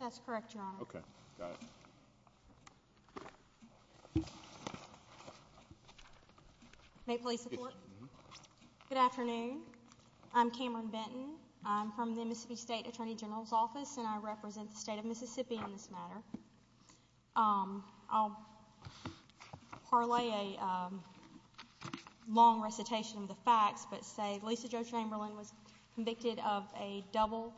That's correct, Your Honor. May police report? Good afternoon. I'm Cameron Benton. I'm from the Mississippi State Attorney General's Office, and I represent the state of Mississippi in this matter. I'll parlay a long recitation of the facts, but say Lisa Jo Chamberlin was convicted of a double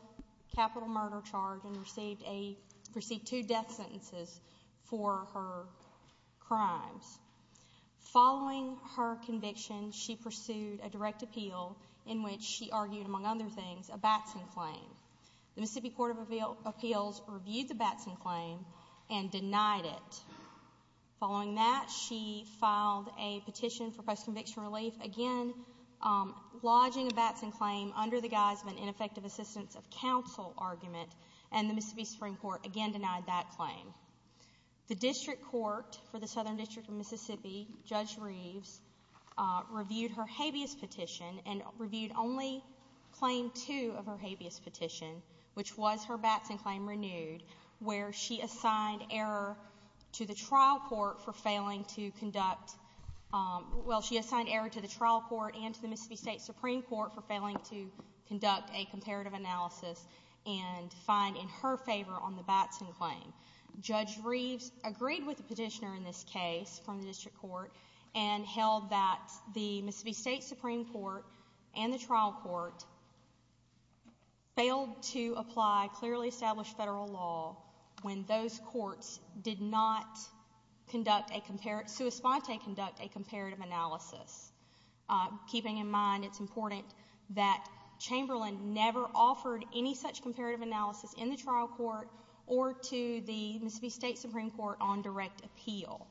capital murder charge and received two death sentences for her crimes. Following her conviction, she pursued a direct appeal in which she argued, among other things, a Batson claim. The Mississippi Court of Appeals reviewed the Batson claim and denied it. Following that, she filed a petition for post-conviction relief, again lodging a Batson claim under the guise of an ineffective assistance of counsel argument, and the Mississippi Supreme Court again denied that claim. The District Court for the Southern District of Mississippi, Judge Reeves, reviewed her habeas petition and reviewed only Claim 2 of her habeas petition, which was her Batson claim renewed, where she assigned error to the trial court and to the Mississippi State Supreme Court for failing to conduct a comparative analysis and find in her favor on the Batson claim. Judge Reeves agreed with the petitioner in this case from the District Court and held that the Mississippi State Supreme Court and the trial court failed to apply clearly established federal law when those courts did not conduct a comparative analysis. Keeping in mind, it's important that Chamberlain never offered any such comparative analysis in the trial court or to the Mississippi State Supreme Court on direct appeal,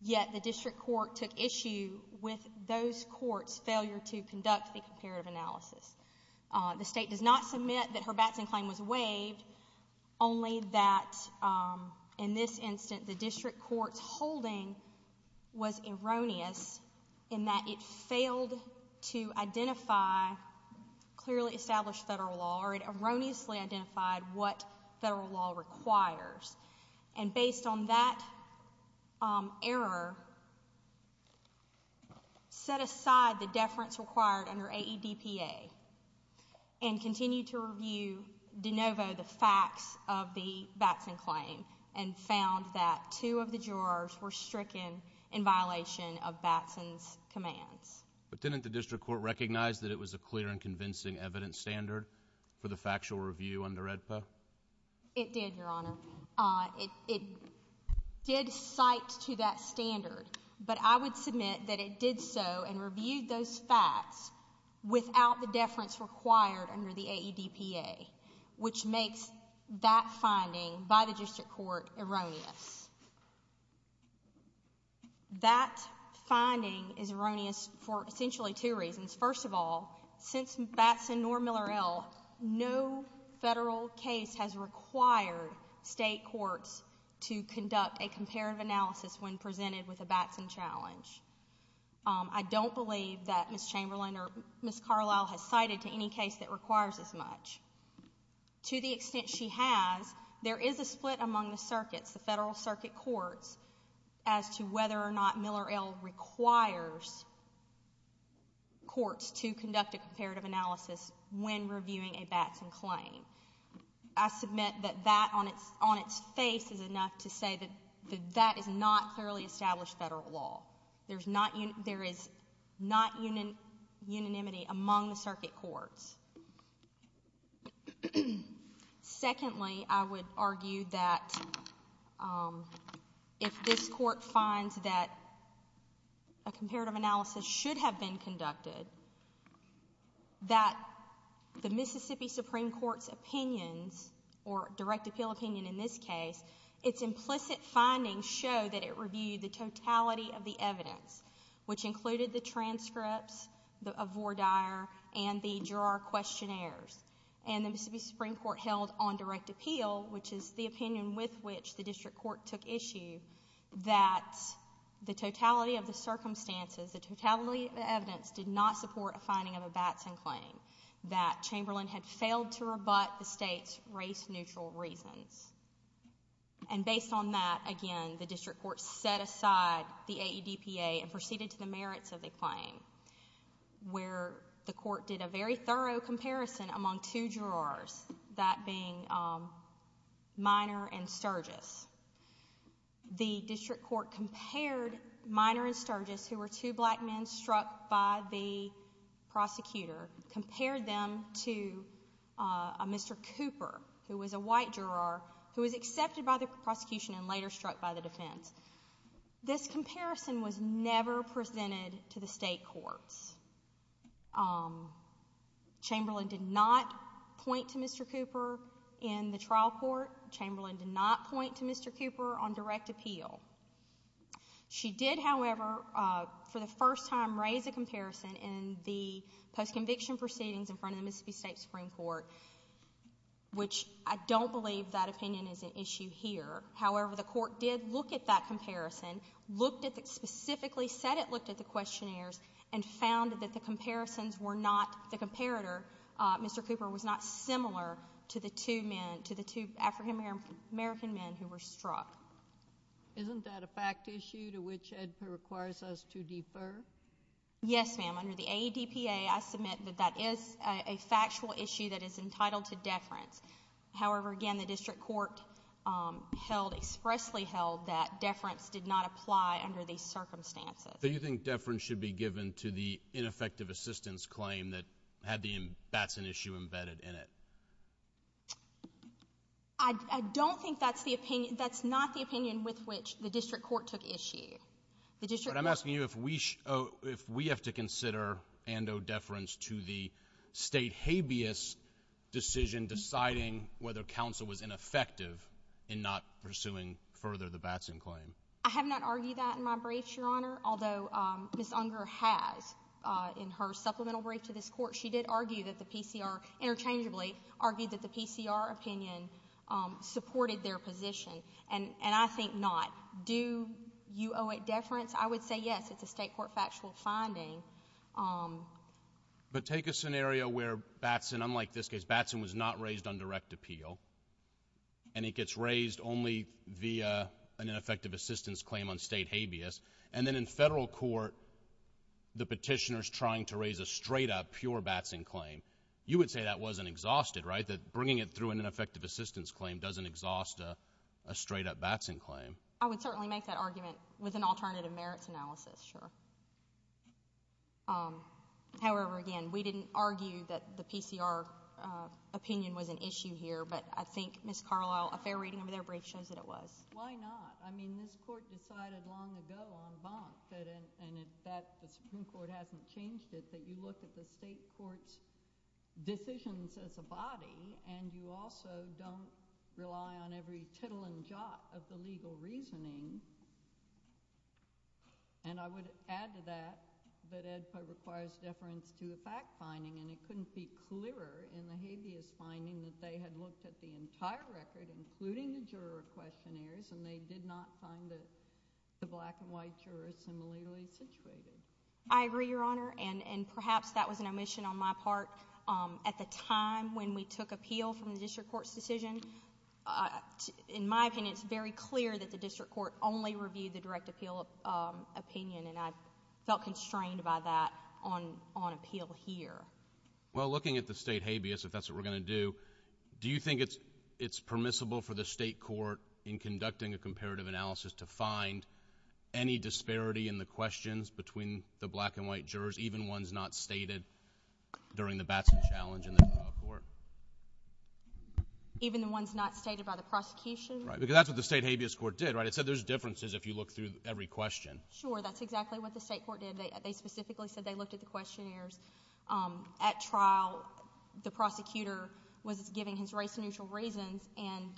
yet the District Court took issue with those courts' failure to conduct a comparative analysis. The State does not submit that her Batson claim was waived, only that in this instance, the District Court's holding was erroneous in that it failed to identify clearly established federal law, or it erroneously identified what federal law requires. Based on that error, set aside the deference required under AEDPA and continued to review de novo the facts of the Batson claim and found that two of the jurors were stricken in violation of Batson's commands. But didn't the District Court recognize that it was a clear and convincing evidence standard for the factual review under AEDPA? It did, Your Honor. It did cite to that standard, but I would submit that it did so and reviewed those facts without the deference required under the AEDPA, which makes that finding by the District Court erroneous. That finding is erroneous for essentially two reasons. First of all, since Batson nor Miller L., no federal case has required state courts to conduct a comparative analysis when presented with a Batson challenge. I don't believe that Ms. Chamberlain or Ms. Carlisle has cited to any case that requires as much. To the extent she has, there is a split among the circuits, the federal circuit courts, as to whether or not Miller L. requires courts to conduct a comparative analysis when reviewing a Batson claim. I submit that that on its face is enough to say that that is not clearly established federal law. There is not unanimity among the circuit courts. Secondly, I would argue that if this Court finds that a comparative analysis should have been conducted, that the Mississippi Supreme Court's opinions, or direct appeal opinion in this case, its implicit findings show that it reviewed the totality of the evidence, which included the transcripts of Vore Dyer and the Girard questionnaires. And the Mississippi Supreme Court held on direct appeal, which is the opinion with which the District Court took issue, that the totality of the circumstances, the totality of the evidence, did not support a finding of a Batson claim, that Chamberlain had failed to rebut the State's race-neutral reasons. And based on that, again, the District Court set aside the AEDPA and proceeded to the merits of the claim, where the Court did a very thorough comparison among two Girards, that being Miner and Sturgis. The District Court compared Miner and Sturgis, who were two black men struck by the prosecutor, compared them to a Mr. Cooper, who was a white Girard, who was accepted by the prosecution and later struck by the defense. This comparison was never presented to the State Courts. Chamberlain did not point to Mr. Cooper in the trial court. Chamberlain did not point to Mr. Cooper on direct appeal. She did, however, for the first time, raise a comparison in the post-conviction proceedings in front of the Mississippi State Supreme Court, which I don't believe that opinion is an issue here. However, the Court did look at that comparison, looked at the, specifically said it looked at the questionnaires, and found that the comparisons were not, the comparator, Mr. Cooper, was not similar to the two men, to the two African-American men who were struck. Isn't that a fact issue to which EDPA requires us to defer? Yes, ma'am. Under the AEDPA, I submit that that is a factual issue that is entitled to deference. However, again, the District Court held, expressly held that deference did not apply under these circumstances. So you think deference should be given to the ineffective assistance claim that had the Batson issue embedded in it? I, I don't think that's the opinion, that's not the opinion with which the District Court took issue. The District Court... But I'm asking you if we, if we have to consider and owe deference to the State habeas decision deciding whether counsel was ineffective in not pursuing further the Batson claim. I have not argued that in my briefs, Your Honor, although, um, Ms. Unger has, uh, in her supplemental brief to this Court, she did argue that the PCR, interchangeably, argued that the PCR opinion, um, supported their position. And, and I think not. Do you owe it deference? I would say yes. It's a State Court factual finding. Um... But take a scenario where Batson, unlike this case, Batson was not raised on direct appeal, and it gets raised only via an ineffective assistance claim on State habeas. And then in Federal Court, the Petitioner's trying to raise a straight-up, pure Batson claim. You would say that wasn't exhausted, right? That bringing it through an ineffective assistance claim doesn't exhaust a, a straight-up Batson claim. I would certainly make that argument with an alternative merits analysis, sure. Um, however, again, we didn't argue that the PCR, uh, opinion was an issue here, but I think Ms. Carlisle, a fair reading of their And I would add to that that EDFA requires deference to a fact finding. And it couldn't be clearer in the habeas finding that they had looked at the entire record, including the juror questionnaires, and they did not find that the black and white jurors similarly situated. I agree, Your Honor, and perhaps that was an omission on my part. At the time when we took appeal from the district court's decision, in my opinion, it's very clear that the district court only reviewed the direct appeal opinion, and I felt constrained by that on appeal here. Well, looking at the state habeas, if that's what we're going to do, do you think it's permissible for the state court, in conducting a comparative analysis, to find any disparity in the questions between the black and white jurors, even ones not stated during the Batson challenge in the trial court? Even the ones not stated by the prosecution? Right, because that's what the state habeas court did, right? It said there's differences if you look through every question. Sure, that's exactly what the state court did. They specifically said they looked at the questionnaires. At trial, the prosecutor was given his race-neutral reasons and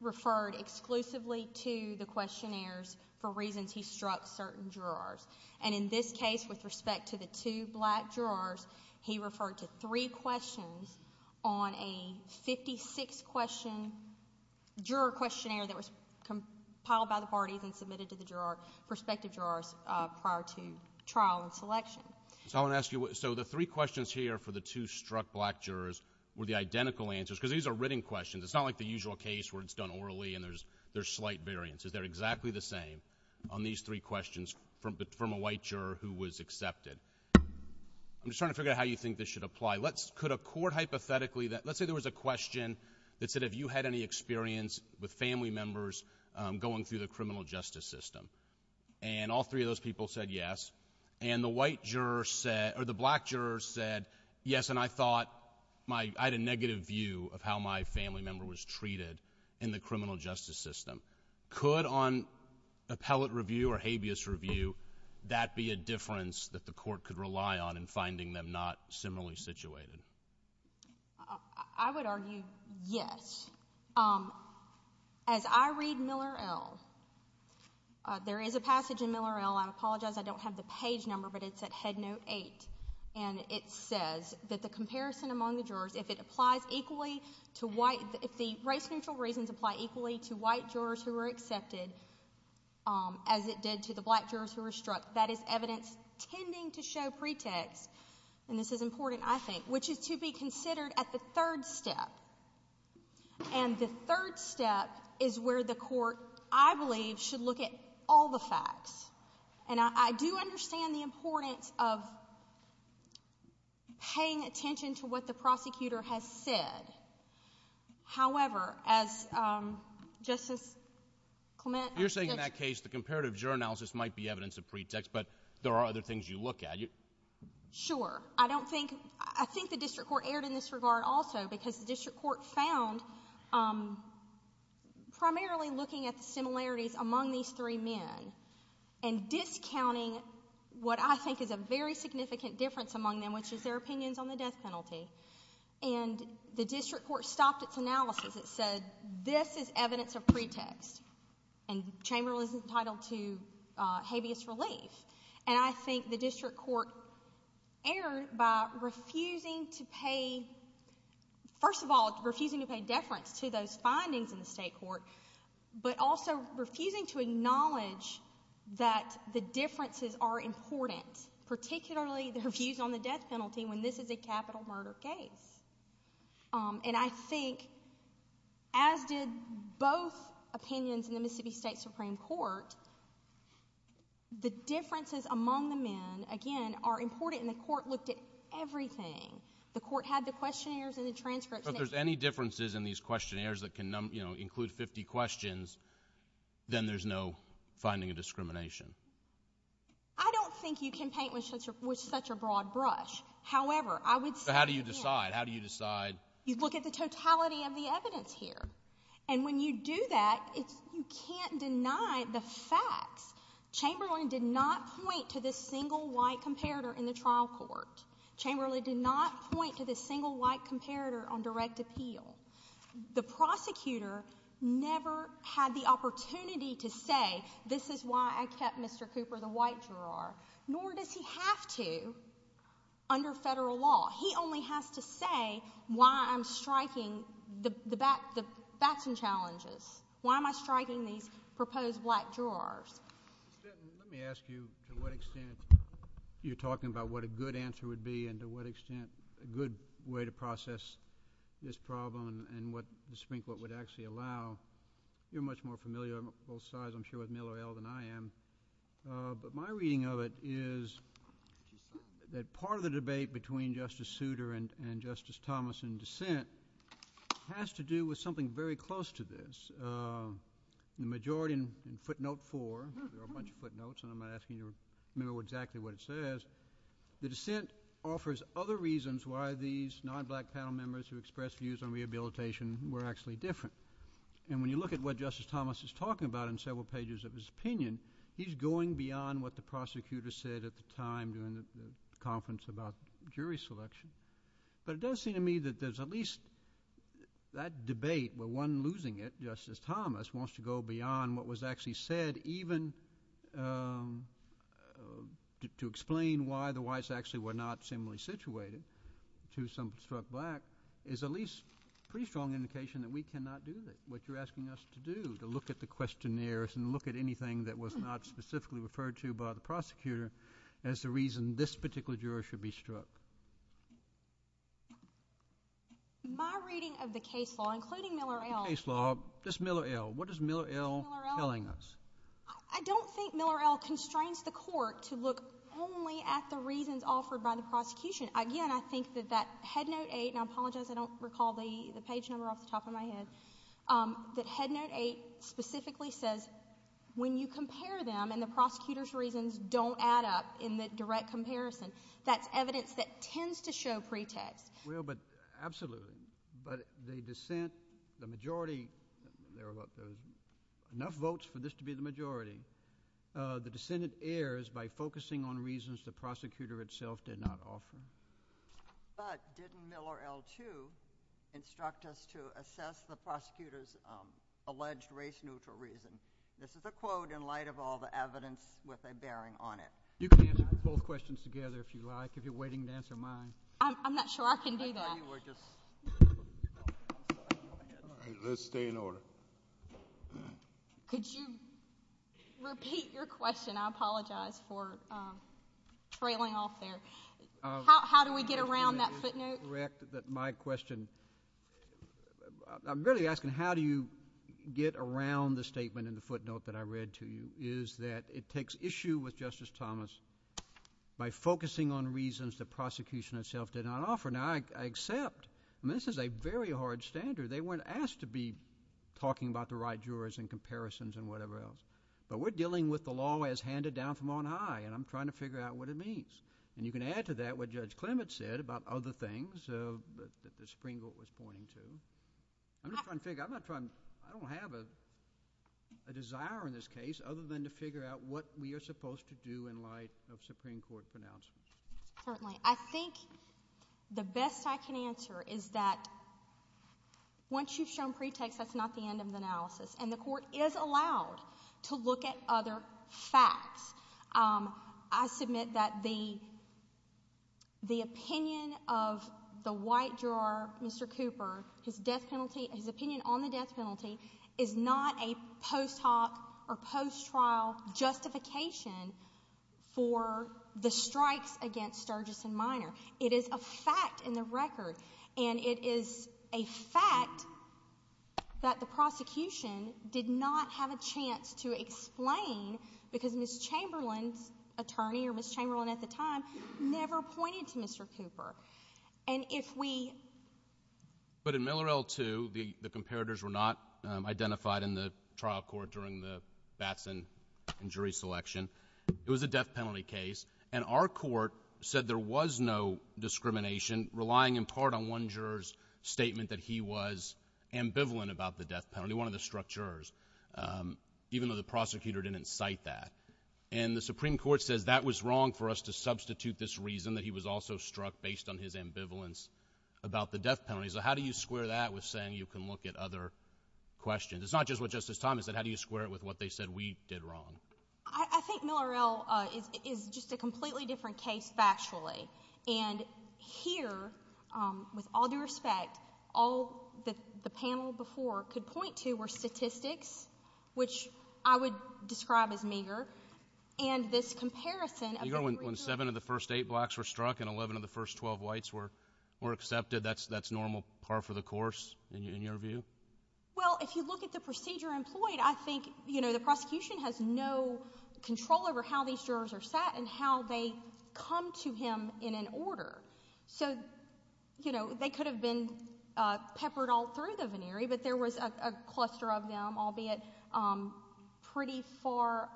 referred exclusively to the questionnaires for reasons he struck certain jurors. And in this case, with respect to the two black jurors, he referred to three questions on a 56-question juror questionnaire that was compiled by the parties and submitted to the jurors, prospective jurors, prior to trial and selection. So I want to ask you, so the three questions here for the two struck black jurors were the identical answers, because these are written questions. It's not like the usual case where it's done orally and there's slight variances. They're exactly the same on these three questions from a white juror who was accepted. I'm just trying to figure out how you think this should apply. Could a court hypothetically that... let's say there was a question that said, have you had any experience with family members going through the criminal justice system? And all three of those people said yes. And the white juror said... or the black juror said, yes, and I thought my... I had a negative view of how my family member was treated in the criminal justice system. Could, on appellate review or habeas review, that be a difference that the court could rely on in finding them not similarly situated? I would argue yes. As I read Miller L... there is a passage in Miller L... I apologize, I don't have the page number, but it's at Headnote 8, and it says that the comparison among the jurors, if it applies equally to white... if the race-neutral reasons apply equally to white jurors who were accepted as it did to the black jurors who were struck, that is evidence tending to show pretext, and this is important, I think, which is to be considered at the third step. And the third step is where the court, I believe, should look at all the facts. And I do understand the importance of paying attention to what the prosecutor has said. However, as Justice Clement... You're saying in that case, the comparative juror analysis might be evidence of pretext, but there are other things you look at. Sure. I don't think... I think the district court erred in this regard also because the district court found primarily looking at the similarities among these three men and discounting what I think is a very significant difference among them, which is their opinions on the death penalty. And the district court stopped its analysis. It said, this is evidence of pretext, and Chamberlain was entitled to habeas relief. And I think the district court erred by refusing to pay... first of all, refusing to pay deference to those findings in the state court, but also refusing to acknowledge that the differences are important, particularly their views on the death penalty when this is a capital murder case. And I think, as did both opinions in the Mississippi State Supreme Court, the differences among the men, again, are important. And the court looked at everything. The court had the questionnaires and the transcripts. But if there's any differences in these questionnaires that can include 50 questions, then there's no finding of discrimination. I don't think you can paint with such a broad brush. However, I would say... So how do you decide? How do you decide? You look at the totality of the evidence here. And when you do that, you can't deny the facts. Chamberlain did not point to this single white comparator in the trial court. Chamberlain did not point to this single white comparator on direct appeal. The prosecutor never had the opportunity to say, this is why I kept Mr. Cooper, the white juror. Nor does he have to, under federal law. He only has to say why I'm striking the facts and challenges. Why am I striking these proposed black jurors? Let me ask you to what extent you're talking about what a good answer would be and to what extent a good way to process this problem and what the Supreme Court would actually allow. You're much more familiar on both sides, I'm sure, with Miller-Ell than I am. But my part of the debate between Justice Souter and Justice Thomas in dissent has to do with something very close to this. The majority in footnote four, there are a bunch of footnotes and I'm not asking you to remember exactly what it says, the dissent offers other reasons why these non-black panel members who expressed views on rehabilitation were actually different. And when you look at what Justice Thomas is talking about in several pages of his opinion, he's going beyond what the prosecutor said at the time during the conference about jury selection. But it does seem to me that there's at least that debate where one losing it, Justice Thomas, wants to go beyond what was actually said even to explain why the whites actually were not similarly situated to some struck black is at least a pretty strong indication that we cannot do what you're asking us to do, to look at the questionnaires and look at anything that was not specifically referred to by the prosecutor as the reason this particular juror should be struck. My reading of the case law, including Miller-Ell The case law, just Miller-Ell, what is Miller-Ell telling us? I don't think Miller-Ell constrains the court to look only at the reasons offered by the prosecution. Again, I think that that headnote eight, and I apologize I don't recall the When you compare them and the prosecutor's reasons don't add up in the direct comparison, that's evidence that tends to show pretext. Absolutely, but the dissent, the majority, enough votes for this to be the majority, the dissent errs by focusing on reasons the prosecutor itself did not offer. But didn't Miller-Ell, too, instruct us to assess the prosecutor's alleged race-neutral reason? This is a quote in light of all the evidence with a bearing on it. You can answer both questions together if you like, if you're waiting to answer mine. I'm not sure I can do that. Let's stay in order. Could you repeat your question? I apologize for trailing off there. How do we get around that footnote? You're quite correct that my question, I'm really asking how do you get around the statement in the footnote that I read to you, is that it takes issue with Justice Thomas by focusing on reasons the prosecution itself did not offer. Now, I accept, and this is a very hard standard, they weren't asked to be talking about the right jurors and comparisons and whatever else, but we're dealing with the law as handed down from on high, and I'm trying to figure out what it means. And you can add to that what Judge Clement said about other things that the Supreme Court was pointing to. I'm just trying to figure, I'm not trying, I don't have a desire in this case, other than to figure out what we are supposed to do in light of Supreme Court pronouncements. Certainly. I think the best I can answer is that once you've shown pretext, that's not the end of the analysis. And the Court is allowed to look at other facts. I submit that the opinion of the white juror, Mr. Cooper, his death penalty, his opinion on the death penalty, is not a post hoc or post trial justification for the strikes against Sturgis and Minor. It is a fact in the record, and it is a fact that the prosecution did not have a chance to explain because Ms. Chamberlain's attorney, or Ms. Chamberlain at the time, never pointed to Mr. Cooper. And if we... But in Miller L2, the comparators were not identified in the trial court during the Batson injury selection. It was a death penalty case, and our court said there was no discrimination relying in part on one juror's statement that he was ambivalent about the death penalty, one of the structures, even though the prosecutor didn't cite that. And the Supreme Court says that was wrong for us to substitute this reason that he was also struck based on his ambivalence about the death penalty. So how do you square that with saying you can look at other questions? It's not just what Justice Thomas said. How do you square it with what they said we did wrong? I think Miller L is just a completely different case factually. And here, with all due respect, all that the panel before could point to were statistics, which I would describe as meager, and this comparison... Meager when seven of the first eight blacks were struck and eleven of the first twelve whites were accepted, that's normal par for the course in your view? Well, if you look at the procedure employed, I think the prosecution has no control over how these jurors are set and how they come to him in an order. So they could have been peppered all through the venery, but there was a cluster of them, albeit pretty far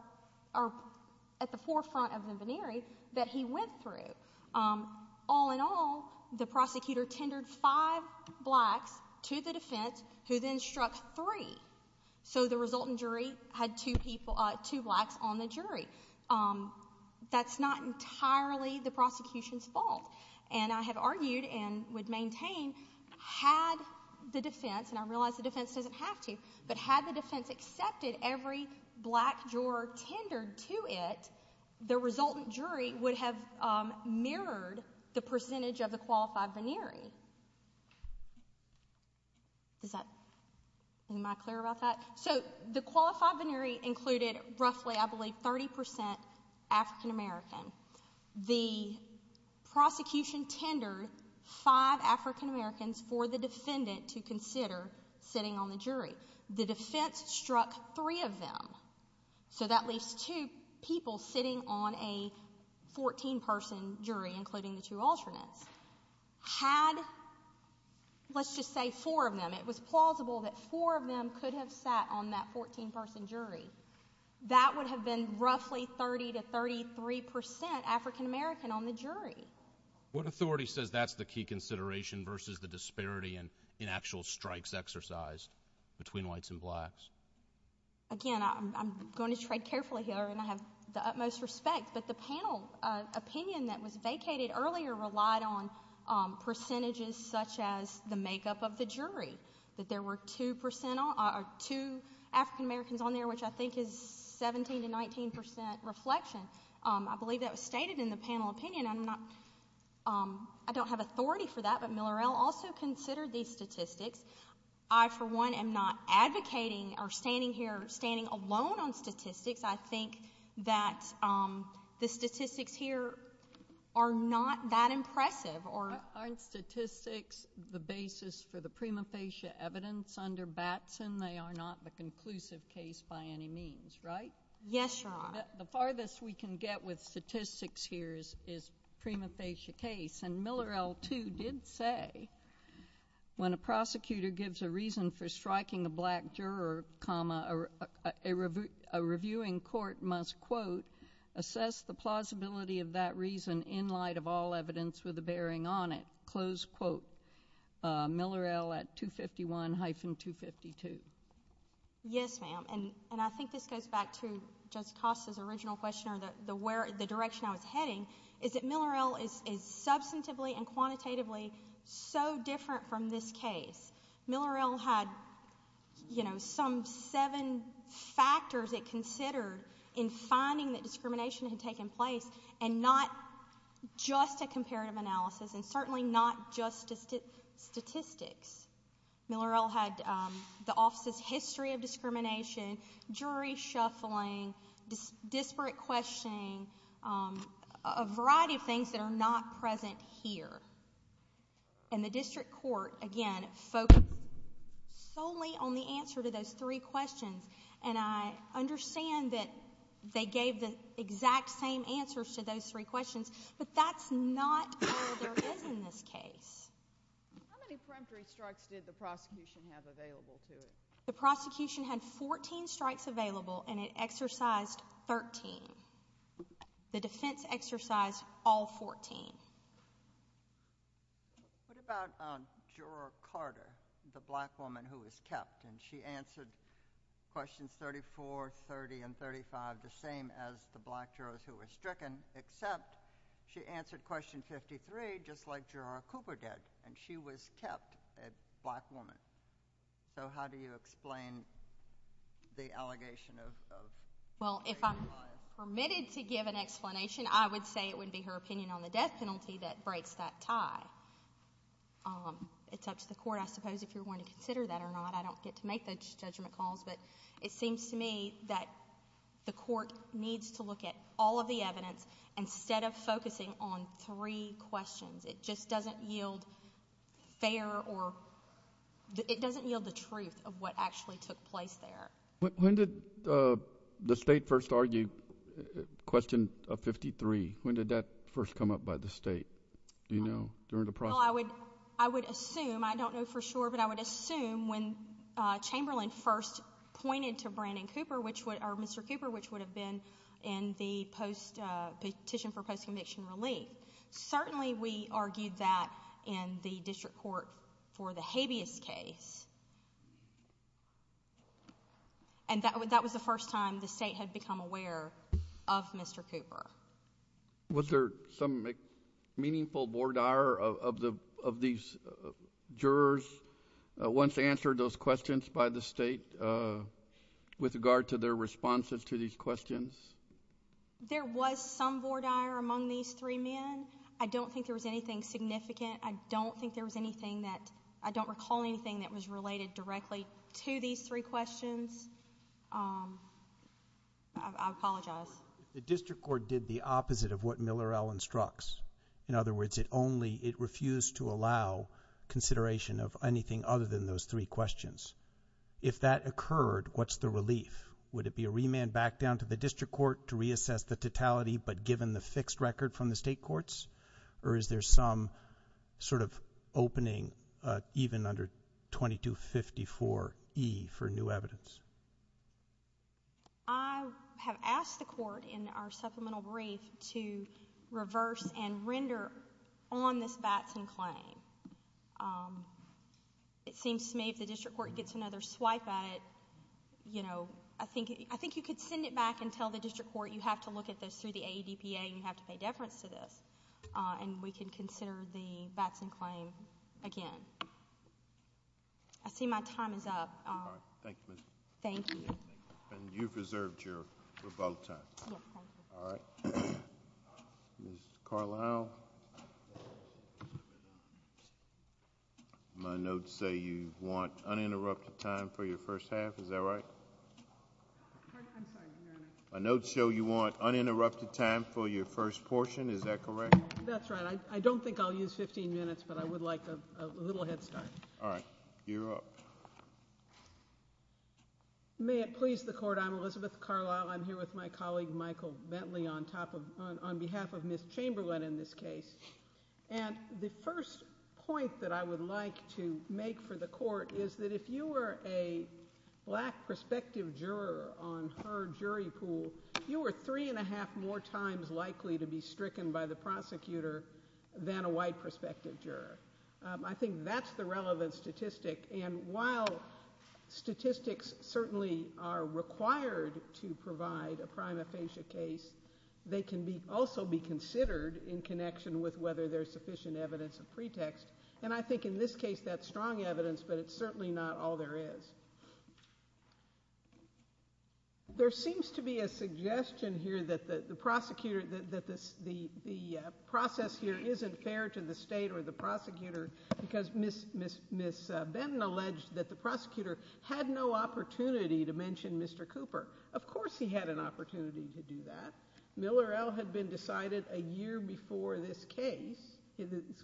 at the forefront of the venery, that he went through. All in all, the prosecutor tendered five blacks to the defense, who then struck three. So the resultant jury had two blacks on the jury. That's not entirely the prosecution's fault. And I have argued and would maintain had the defense, and I realize the defense doesn't have to, but had the defense accepted every black juror tendered to it, the resultant jury would have mirrored the percentage of the qualified venery. Is that... am I clear about that? So the qualified venery included roughly, I believe, 30 percent African American. The prosecution tendered five African Americans for the defendant to consider sitting on the jury. The defense struck three of them. So that leaves two people sitting on a 14-person jury, including the two alternates. Had, let's just say four of them, it was plausible that four of them could have sat on that 14-person jury. That would have been roughly 30 to 33 percent African American on the jury. What authority says that's the key consideration versus the disparity in actual strikes exercised between whites and blacks? Again, I'm going to tread carefully here, and I have the utmost respect, but the panel opinion that was vacated earlier relied on percentages such as the makeup of the jury, that there were two African Americans on there, which I think is 17 to 19 percent reflection. I believe that was stated in the panel opinion. I don't have authority for that, but Miller L. also considered these statistics. I, for one, am not advocating or standing here, standing alone on statistics. I think that the statistics here are not that impressive. Aren't statistics the basis for the prima facie evidence under Batson? They are not the conclusive case by any means, right? Yes, Your Honor. The farthest we can get with statistics here is prima facie case, and Miller L. too did say, when a prosecutor gives a reason for striking a black juror, a reviewing court must, quote, assess the plausibility of that reason in light of all evidence with a bearing on it, close quote, Miller L. at 251-252. Yes, ma'am, and I think this goes back to Justice Costa's original question on the direction I was heading, is that Miller L. is substantively and quantitatively so different from this in finding that discrimination had taken place and not just a comparative analysis and certainly not just statistics. Miller L. had the office's history of discrimination, jury shuffling, disparate questioning, a variety of things that are not present here. And the district court, again, focused solely on the answer to those three questions, and I understand that they gave the exact same answers to those three questions, but that's not all there is in this case. How many peremptory strikes did the prosecution have available to it? The prosecution had 14 strikes available, and it exercised 13. The defense exercised all 14. What about Juror Carter, the black woman who was kept, and she answered questions 35 and 34, 30, and 35, the same as the black jurors who were stricken, except she answered question 53, just like Juror Cooper did, and she was kept a black woman. So how do you explain the allegation of a black woman? Well, if I'm permitted to give an explanation, I would say it would be her opinion on the death penalty that breaks that tie. It's up to the court, I suppose, if you're going to do that. But it seems to me that the court needs to look at all of the evidence instead of focusing on three questions. It just doesn't yield fair, or it doesn't yield the truth of what actually took place there. When did the state first argue question 53? When did that first come up by the state, do you know, during the process? I would assume, I don't know for sure, but I would assume when Chamberlain first pointed to Mr. Cooper, which would have been in the petition for post-conviction relief. Certainly we argued that in the district court for the habeas case, and that was the first time the state had become aware of Mr. Cooper. Was there some meaningful bore dire of these jurors once answered those questions by the state with regard to their responses to these questions? There was some bore dire among these three men. I don't think there was anything significant. I don't think there was anything that, I don't recall anything that was related directly to these three questions. I apologize. The district court did the opposite of what Miller-Allen struck. In other words, it only, it refused to allow consideration of anything other than those three questions. If that occurred, what's the relief? Would it be a remand back down to the district court to reassess the totality, but given the fixed record from the state courts? Or is there some sort of opening, even under 2254E for new evidence? I have asked the court in our supplemental brief to reverse and render on this Batson claim. It seems to me if the district court gets another swipe at it, you know, I think you could send it back and tell the district court, you have to look at this through the AEDPA and you have to pay deference to this, and we can consider the Batson claim again. I see my time is up. Thank you. You've reserved your vote time. Ms. Carlisle, my notes say you want uninterrupted time for your first half, is that right? My notes show you want uninterrupted time for your first portion, is that correct? That's right. I don't think I'll use 15 minutes, but I would like a little head start. All right. You're up. May it please the court, I'm Elizabeth Carlisle. I'm here with my colleague, Michael Bentley, on behalf of Ms. Chamberlain in this case. And the first point that I would like to make for the court is that if you were a black prospective juror on her jury pool, you were three and a half more times likely to be stricken by the prosecutor than a white prospective juror. I think that's the relevant statistic. And while statistics certainly are required to provide a prime aphasia case, they can also be considered in connection with whether there's sufficient evidence of pretext. And I think in this case, that's strong evidence, but it's certainly not all there is. There seems to be a suggestion here that the prosecutor, that the process here isn't fair to the state or the prosecutor, because Ms. Benton alleged that the prosecutor had no opportunity to mention Mr. Cooper. Of course he had an opportunity to do that. Miller L. had been decided a year before this case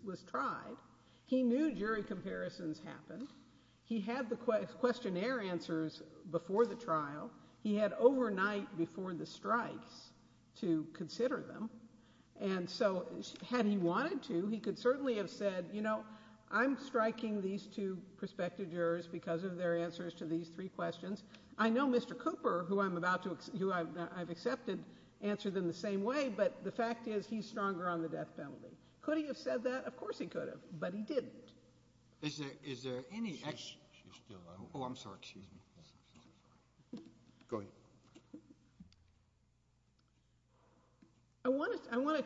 was tried. He knew jury comparisons happened. He had the questionnaire answers before the trial. He had overnight before the strikes to consider them. And so had he wanted to, he could certainly have said, you know, I'm striking these two prospective jurors because of their answers to these three questions. I know Mr. Cooper, who I've accepted, answered them the same way, but the fact is he's stronger on the death penalty. Could he have said that? Of course he could have, but he didn't. Is there any... She's still around. Oh, I'm sorry, excuse me. Go ahead. I want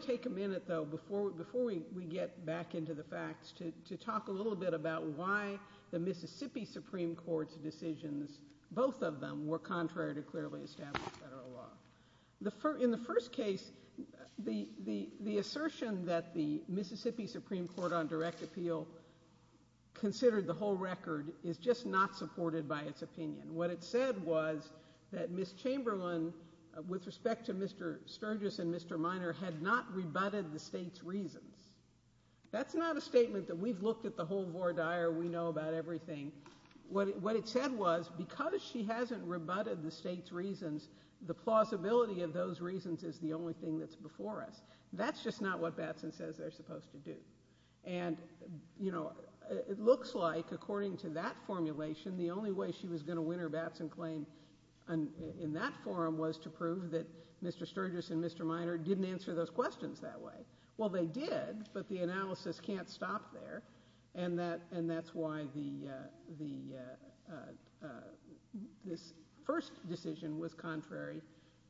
to take a minute, though, before we get back into the facts, to talk a little bit about why the Mississippi Supreme Court's decisions, both of them, were contrary to clearly established federal law. In the first case, the assertion that the Mississippi Supreme Court on direct appeal considered the whole record is just not supported by its opinion. What it said was that Ms. Chamberlain, with respect to Mr. Sturgis and Mr. Minor, had not rebutted the state's reasons. That's not a statement that we've looked at the whole voir dire, we know about everything. What it said was, because she hasn't rebutted the state's reasons, the plausibility of those reasons is the only thing that's before us. That's just not what Batson says they're supposed to do. It looks like, according to that formulation, the only way she was going to win her Batson claim in that forum was to prove that Mr. Sturgis and Mr. Minor didn't answer those questions that way. Well, they did, but the analysis can't stop there, and that's why this first decision was contrary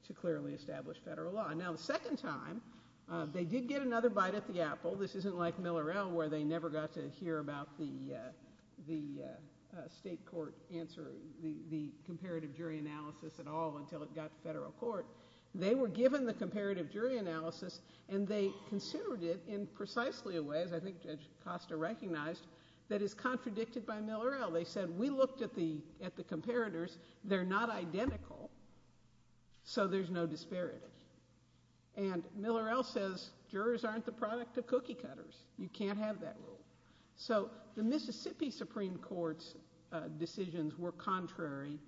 to clearly established federal law. Now, the second time, they did get another bite at the apple. This isn't like Miller-El, where they never got to hear about the state court answer, the comparative jury analysis at all, until it got to federal court. They were given the comparative jury analysis, and they considered it in precisely a way, as I think Judge Costa recognized, that is contradicted by Miller-El. They said, we looked at the comparators, they're not identical, so there's no disparity. And Miller-El says, jurors aren't the product of cookie cutters. You can't have that rule. So the Mississippi Supreme Court's decisions were contrary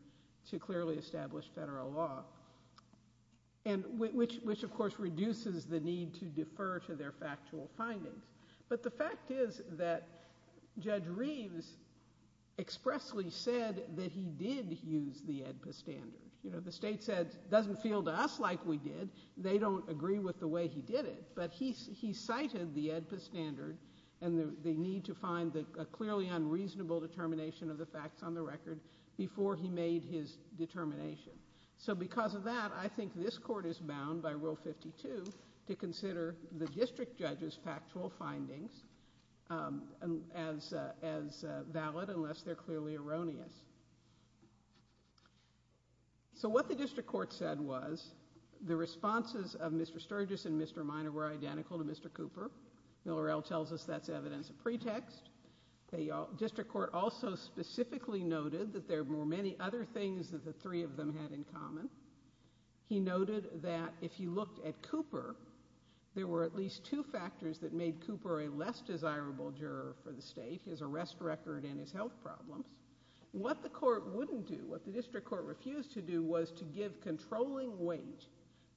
to clearly established federal law, which of course reduces the need to defer to their factual findings. But the fact is that Judge Reeves expressly said that he did use the AEDPA standard. You know, the state said, it doesn't feel to us like we did. They don't agree with the way he did it, but he cited the AEDPA standard, and the need to find a clearly unreasonable determination of the facts on the record before he made his determination. So because of that, I think this Court is bound by Rule 52 to consider the district judge's factual findings as valid, unless they're clearly erroneous. So what the district court said was, the responses of Mr. Sturgis and Mr. Minor were identical to Mr. Cooper. Miller-El tells us that's evidence of pretext. The district court also specifically noted that there were many other things that the three of them had in common. He noted that if you looked at Cooper, there were at least two factors that made Cooper a less desirable juror for the state, his arrest record and his health problems. What the court wouldn't do, what the district court refused to do was to give controlling weight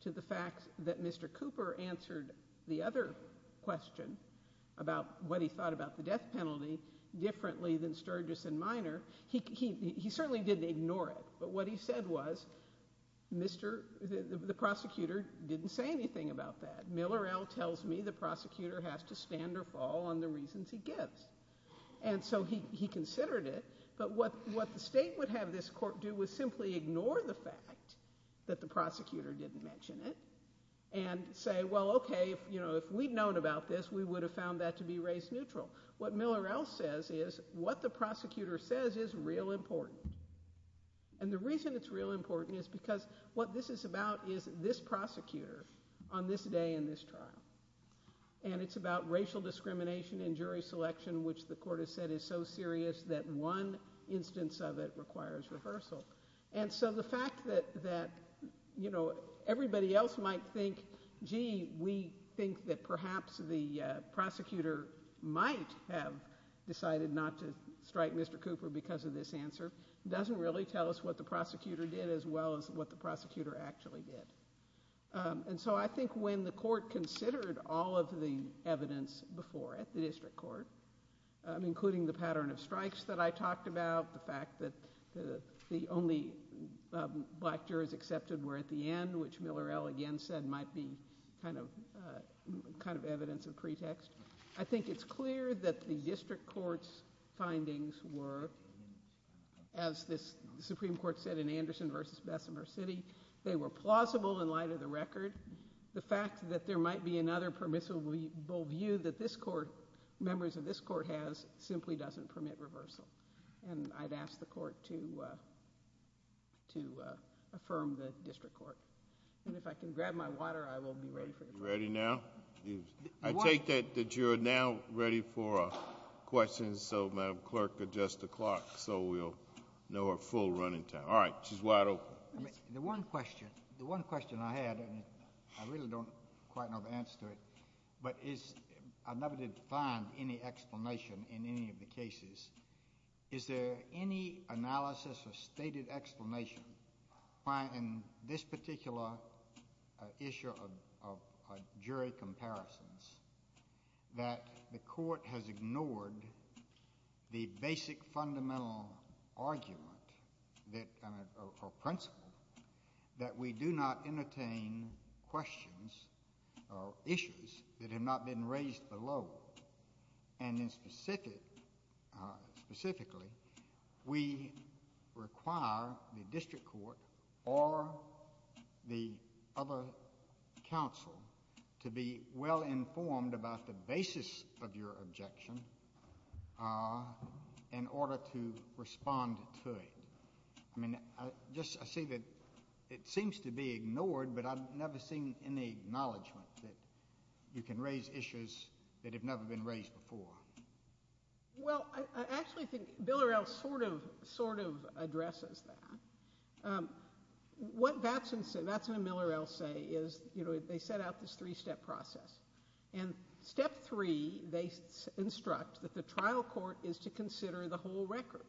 to the facts that Mr. Cooper answered the other question about what he thought about the death penalty differently than Sturgis and Minor. He certainly didn't ignore it, but what he said was, the prosecutor didn't say anything about that. Miller-El tells me the prosecutor has to stand or fall on the reasons he gives. So he considered it, but what the state would have this court do was simply ignore the fact that the prosecutor didn't mention it and say, well okay, if we'd known about this, we would have found that to be race neutral. What Miller-El says is, what the prosecutor says is real important. The reason it's real important is because what this is about is this prosecutor on this day in this trial. And it's about racial discrimination and jury selection, which the court has said is so serious that one instance of it requires rehearsal. And so the fact that, you know, everybody else might think, gee, we think that perhaps the prosecutor might have decided not to strike Mr. Cooper because of this answer doesn't really tell us what the prosecutor did as well as what the prosecutor actually did. And so I think when the court considered all of the evidence before at the district court, including the pattern of strikes that I talked about, the fact that the only black jurors accepted were at the end, which Miller-El again said might be kind of evidence of pretext, I think it's clear that the district court's findings were, as the Supreme Court said in Anderson v. Bessemer City, they were plausible in light of the record. The fact that there might be another permissible view that this court, members of this court has, simply doesn't permit reversal. And I'd ask the court to affirm the district court. And if I can grab my water, I will be ready for the question. You ready now? I take that you're now ready for a question. So Madam Clerk, adjust the clock so we'll know our full running time. All right. She's wide open. The one question I had, and I really don't quite know the answer to it, but I've never defined any explanation in any of the cases. Is there any analysis or stated explanation why in this particular issue of jury comparisons that the court has ignored the basic fundamental argument that, or principle, that we do not entertain questions or issues that have not been raised below? And then specifically, we require the district court to be able to or the other counsel to be well-informed about the basis of your objection in order to respond to it. I mean, I just, I see that it seems to be ignored, but I've never seen any acknowledgment that you can raise issues that have never been raised before. Well, I actually think Miller-El sort of addresses that. What Vats and Miller-El say is, you know, they set out this three-step process. And step three, they instruct that the trial court is to consider the whole record.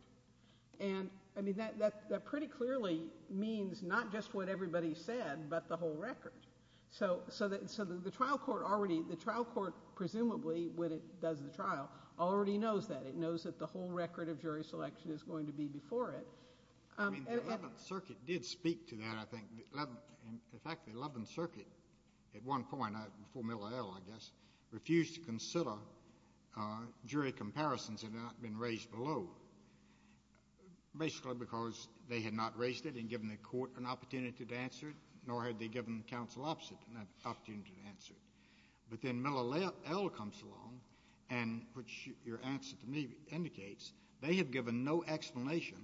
And, I mean, that pretty clearly means not just what everybody said, but the whole record. So the trial court already, the trial court presumably, when it does the trial, already knows that. It knows that the whole record of jury selection is going to be before it. I mean, the 11th Circuit did speak to that, I think. In fact, the 11th Circuit, at one point, before Miller-El, I guess, refused to consider jury comparisons had not been raised below, basically because they had not raised it and given the court an opportunity to answer it, nor had they given counsel an opportunity to answer it. But then Miller-El comes along and, which your answer to me indicates, they have given no explanation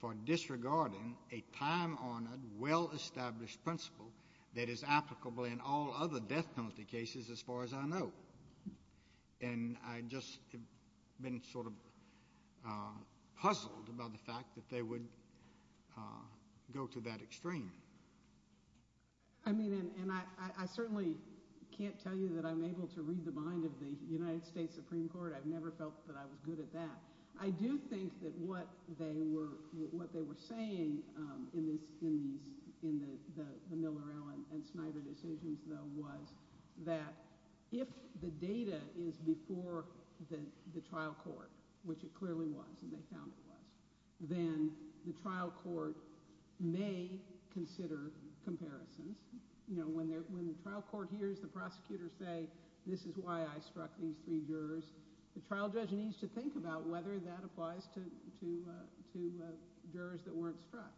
for disregarding a time-honored, well-established principle that is applicable in all other death penalty cases as far as I know. And I just have been sort of puzzled about the fact that they would go to that extreme. I mean, and I certainly can't tell you that I'm able to read the mind of the United States Supreme Court. I've never felt that I was good at that. I do think that what they were saying in the Miller-El and Snyder decisions, though, was that if the data is before the court, the court would have to consider comparisons. You know, when the trial court hears the prosecutors say, this is why I struck these three jurors, the trial judge needs to think about whether that applies to jurors that weren't struck.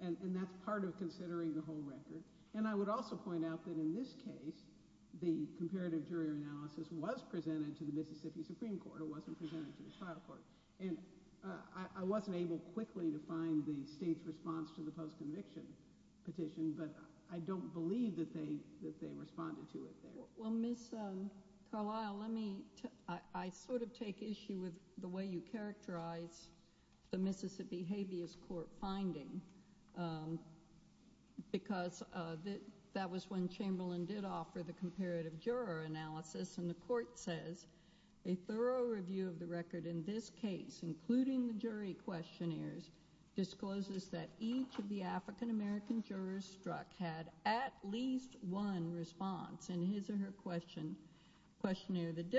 And that's part of considering the whole record. And I would also point out that in this case, the comparative jury analysis was presented for the Mississippi habeas court petition, but I don't believe that they responded to it. Well, Ms. Carlyle, I sort of take issue with the way you characterize the Mississippi habeas court finding because that was when Chamberlain did offer the comparative juror analysis, and the court says, a thorough review of the record in this case, including the jury questionnaires, discloses that each of the African-American jurors struck had at least one response in his or her questionnaire that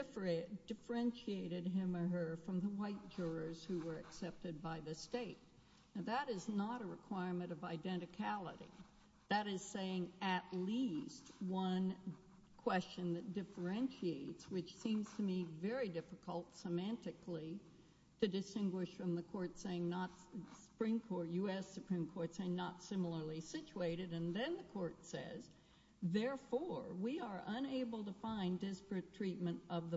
differentiated him or her from the white jurors who were accepted by the state. Now, that is not a requirement of identicality. That is saying at least one question that differentiates, which seems to me very difficult semantically to distinguish from the court saying not... Supreme Court, U.S. Supreme Court saying not similarly situated. And then the court says, therefore, we are unable to find disparate treatment of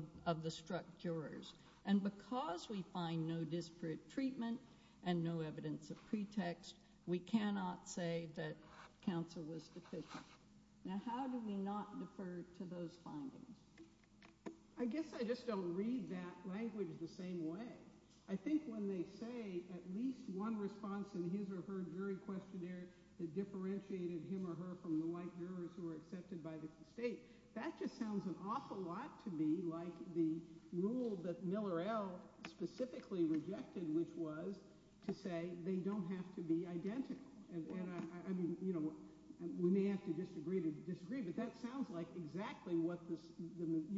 the struck jurors. And because we find no disparate treatment and no evidence of pretext, we cannot say that counsel was deficient. Now, how do we not defer to those findings? I guess I just don't read that language the same way. I think when they say at least one response in his or her jury questionnaire that differentiated him or her from the white jurors who were accepted by the state, that just sounds an awful lot to me like the rule that Miller L. specifically rejected, which was to say they don't have to be identical. We may have to disagree, but that sounds like exactly what the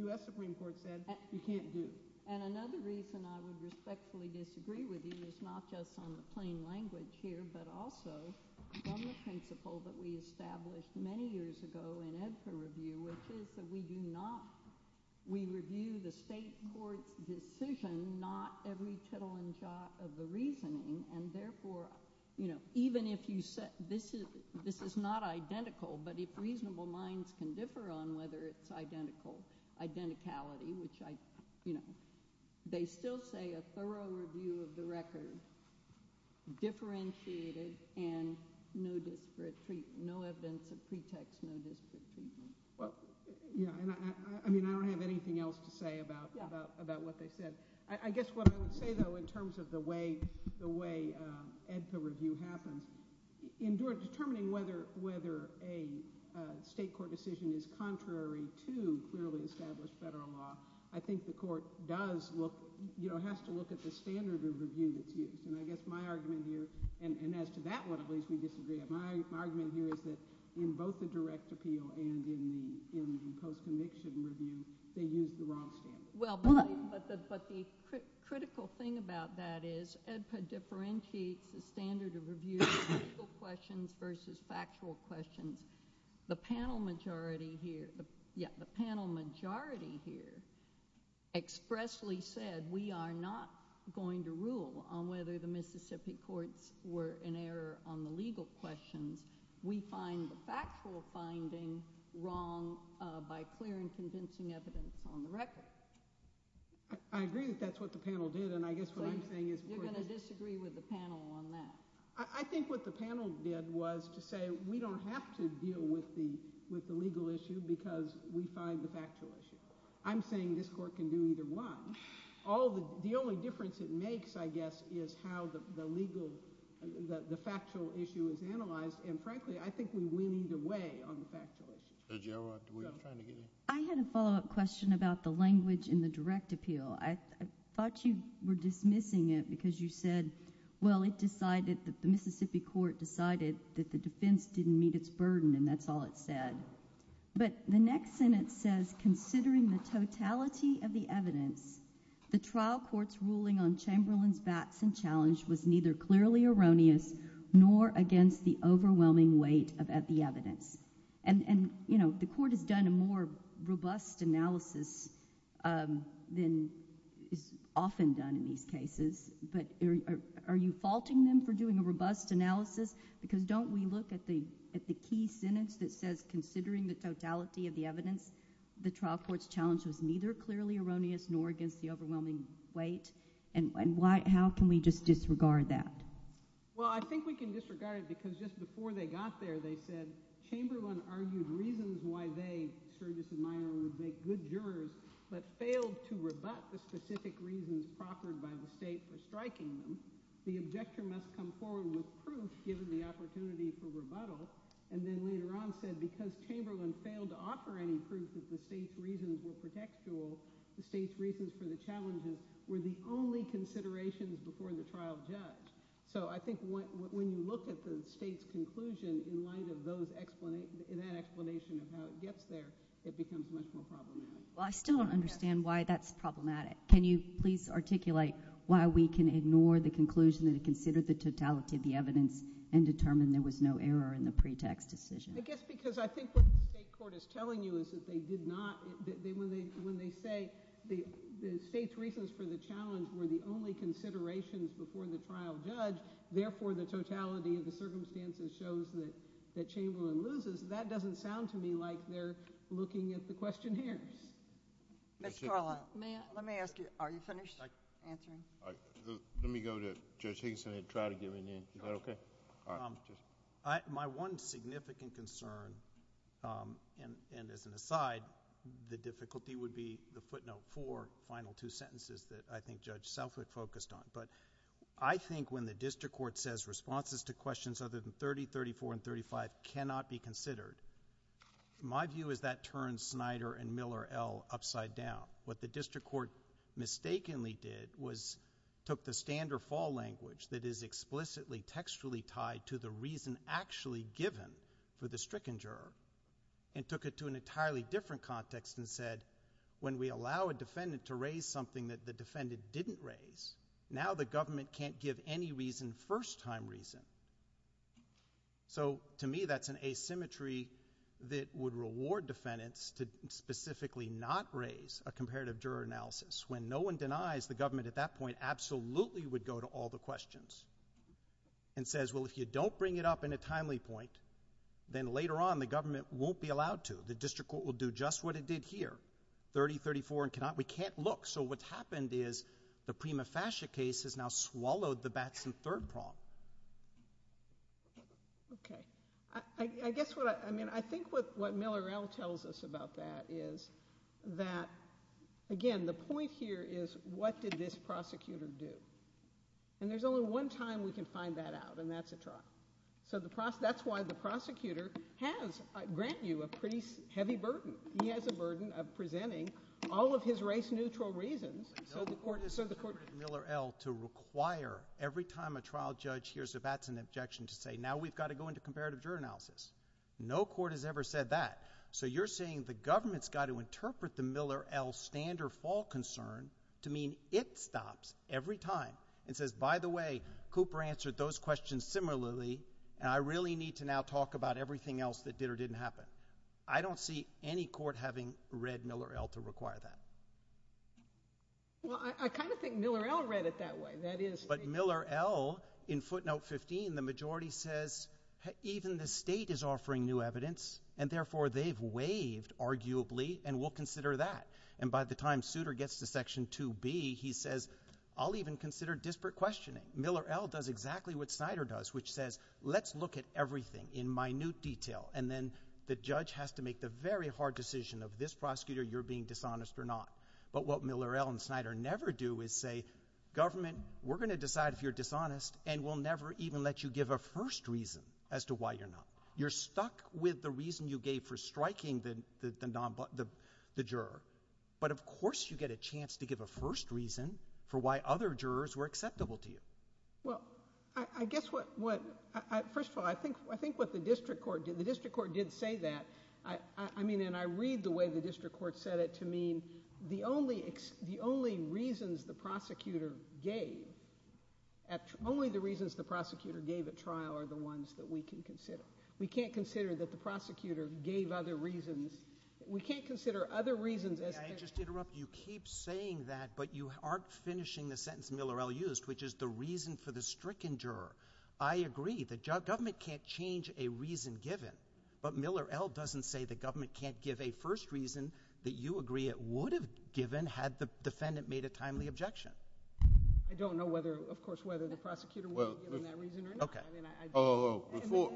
U.S. Supreme Court said you can't do. And another reason I would respectfully disagree with you is not just on the plain language here, but also on the principle that we established many years ago in EBSA review, which is that we do not... we review the state court's decision, not every tittle and jot of the reasoning. And therefore, even if you say this is not identical, but if reasonable minds can differ on whether it's identical, identicality, which I... they still say a thorough review of the record differentiated and no evidence of pretext, no disparate treatment. I mean, I don't have anything else to say about what they said. I guess what I would say, though, in terms of the way EBSA review happens, in determining whether a state court decision is contrary to clearly established federal law, I think the court does look... has to look at the standard of review that's used. And I guess my argument here, and as to that one, at least, we disagree. My argument here is that in both the direct appeal and in the post-conviction review, they used the wrong standard. Well, but the critical thing about that is EDPA differentiates the standard of review of legal questions versus factual questions. The panel majority here... yeah, the panel majority here expressly said we are not going to rule on whether the Mississippi courts were in error on the legal questions. We find the factual finding wrong by clear and convincing evidence on the record. I agree that that's what the panel did, and I guess what I'm saying is... You're going to disagree with the panel on that. I think what the panel did was to say we don't have to deal with the legal issue because we find the factual issue. I'm saying this court can do either one. The only difference it makes, I guess, is how the legal... the factual issue is analyzed, and frankly, I think we need a way on the factual issue. Judge, do you have a... I had a follow-up question about the language in the direct appeal. I thought you were dismissing it because you said, well, it decided that the Mississippi court decided that the defense didn't meet its burden, and that's all it said. But the next sentence says, Considering the totality of the evidence, the trial court's ruling on Chamberlain's bats and challenge was neither clearly erroneous nor against the overwhelming weight of the evidence. And, you know, the court has done a more robust analysis than is often done in these cases, but are you faulting them for doing a robust analysis? Because don't we look at the key sentence that says, Considering the totality of the evidence, the trial court's challenge was neither clearly erroneous nor against the overwhelming weight? And how can we just disregard that? Well, I think we can disregard it because just before they got there, they said, Chamberlain argued reasons why they, Sturgis and Meyer, would make good jurors, but failed to rebut the specific reasons proffered by the state for striking them. The objector must come forward with proof, given the opportunity for rebuttal. And then later on said, because Chamberlain failed to offer any proof that the state's reasons were protectual, the state's reasons for the challenges were the only considerations before the trial judge. So I think when you look at the state's conclusion in light of that explanation of how it gets there, it becomes much more problematic. Well, I still don't understand why that's problematic. Can you please articulate why we can ignore the conclusion that it considered the totality of the evidence and determine there was no error in the pretext decision? I guess because I think what the state court is telling you is that they did not, that when they say the state's reasons for the challenge were the only considerations before the trial judge, therefore the totality of the circumstances shows that Chamberlain loses, that doesn't sound to me like they're looking at the questionnaires. Ms. Carla, let me ask you, are you finished answering? Let me go to Judge Higginson and try to get him in. Is that okay? My one significant concern, and as an aside, the difficulty would be the footnote for the final two sentences that I think Judge Selkirk focused on. But I think when the district court says responses to questions other than 30, 34, and 35 cannot be considered, my view is that turns Snyder and Miller L. upside down. What the district court mistakenly did was took the stand or fall language that is explicitly textually tied to the reason actually given for the stricken juror and took it to an entirely different context and said, when we allow a defendant to raise something that the defendant didn't raise, now the government can't give any reason, first-time reason. So, to me, that's an asymmetry that would reward defendants to specifically not raise a comparative juror analysis. When no one denies, the government at that point absolutely would go to all the questions and says, well, if you don't bring it up in a timely point, then later on the government won't be allowed to. The district court will do just what it did here, 30, 34, and cannot, we can't look. So what's happened is the Prima Fascia case has now swallowed the Batson third prong. Okay. I guess what, I mean, I think what Miller L. tells us about that is that, again, the point here is what did this prosecutor do? And there's only one time we can find that out, and that's a trial. So that's why the prosecutor has, grant you, a pretty heavy burden. He has a burden of presenting all of his race-neutral reasons, so the court... Miller L. to require every time a trial judge hears a Batson objection to say, now we've got to go into comparative juror analysis. No court has ever said that. So you're saying the government's got to interpret the Miller L. stand or fall concern to mean it stops every time and says, by the way, Cooper answered those questions similarly, and I really need to now talk about everything else that did or didn't happen. I don't see any court having read Miller L. to require that. Well, I kind of think Miller L. read it that way. That is... But Miller L. in footnote 15, the majority says, even the state is offering new evidence, and, therefore, they've waived, arguably, and we'll consider that. And by the time Souter gets to section 2B, he says, I'll even consider disparate questioning. Miller L. does exactly what Snyder does, which says, let's look at everything in minute detail, and then the judge has to make the very hard decision of this prosecutor, you're being dishonest or not. But what Miller L. and Snyder never do is say, government, we're going to decide if you're dishonest, and we'll never even let you give a first reason as to why you're not. You're stuck with the reason you gave for striking the non... the juror, but of course you get a chance to give a first reason for why other jurors were acceptable to you. Well, I guess what... first of all, I think what the district court did... the district court did say that. I mean, and I read the way the district court said it to mean, the only reasons the prosecutor gave... only the reasons the prosecutor gave at trial are the ones that we can consider. We can't consider that the prosecutor gave other reasons... we can't consider other reasons as... May I just interrupt? You keep saying that, but you aren't finishing the sentence Miller L. used, which is the reason for the stricken juror. I agree, the government can't change a reason given, but Miller L. doesn't say the government can't give a first reason that you agree it would have given had the defendant made a timely objection. I don't know whether... of course, whether the prosecutor would have given that reason or not. Okay. I mean, I... Before...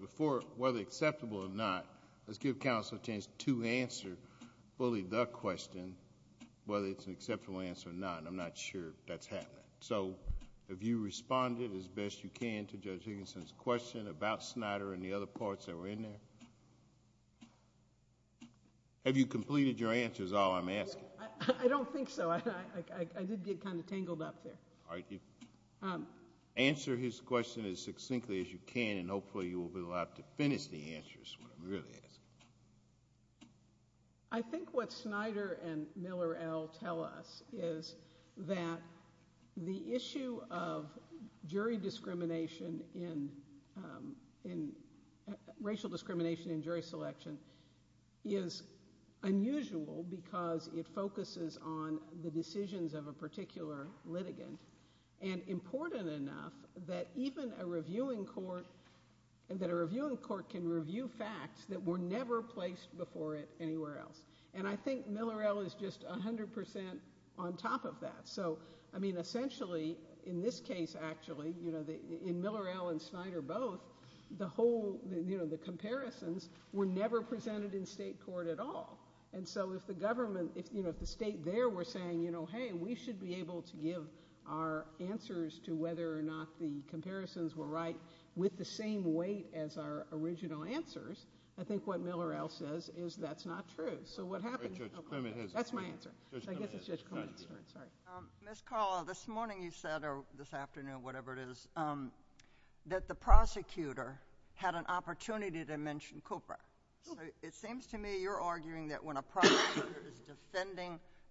before... whether acceptable or not, let's give counsel a chance to answer fully the question, whether it's an acceptable answer or not. I'm not sure that's happening. Have you responded as best you can to Judge Higginson's question about Snyder and the other parts that were in there? Have you completed your answers, all I'm asking? I don't think so. I did get kind of tangled up there. Answer his question as succinctly as you can, and hopefully you will be allowed to finish the answer is what it really is. I think what Snyder and Miller L. tell us is that the issue of jury discrimination in... racial discrimination in jury selection is unusual because it focuses on the decisions of a particular litigant and important enough that even a reviewing court... that a reviewing court can review facts that were never placed before it anywhere else. I think Miller L. is just 100% on top of that. I mean, essentially, in this case actually, in Miller L. and Snyder both, the whole... the comparisons were never presented in state court at all. If the government... if the state there were saying, you know, hey, we should be able to give our answers to whether or not the comparisons were right with the same weight as our original answers, I think what Miller L. says is that's not true. So, what happened... Judge Clement has... That's my answer. Judge Clement has... I guess it's Judge Clement's turn. Sorry. Ms. Call, this morning you said, or this afternoon, whatever it is, that the prosecutor had an objection to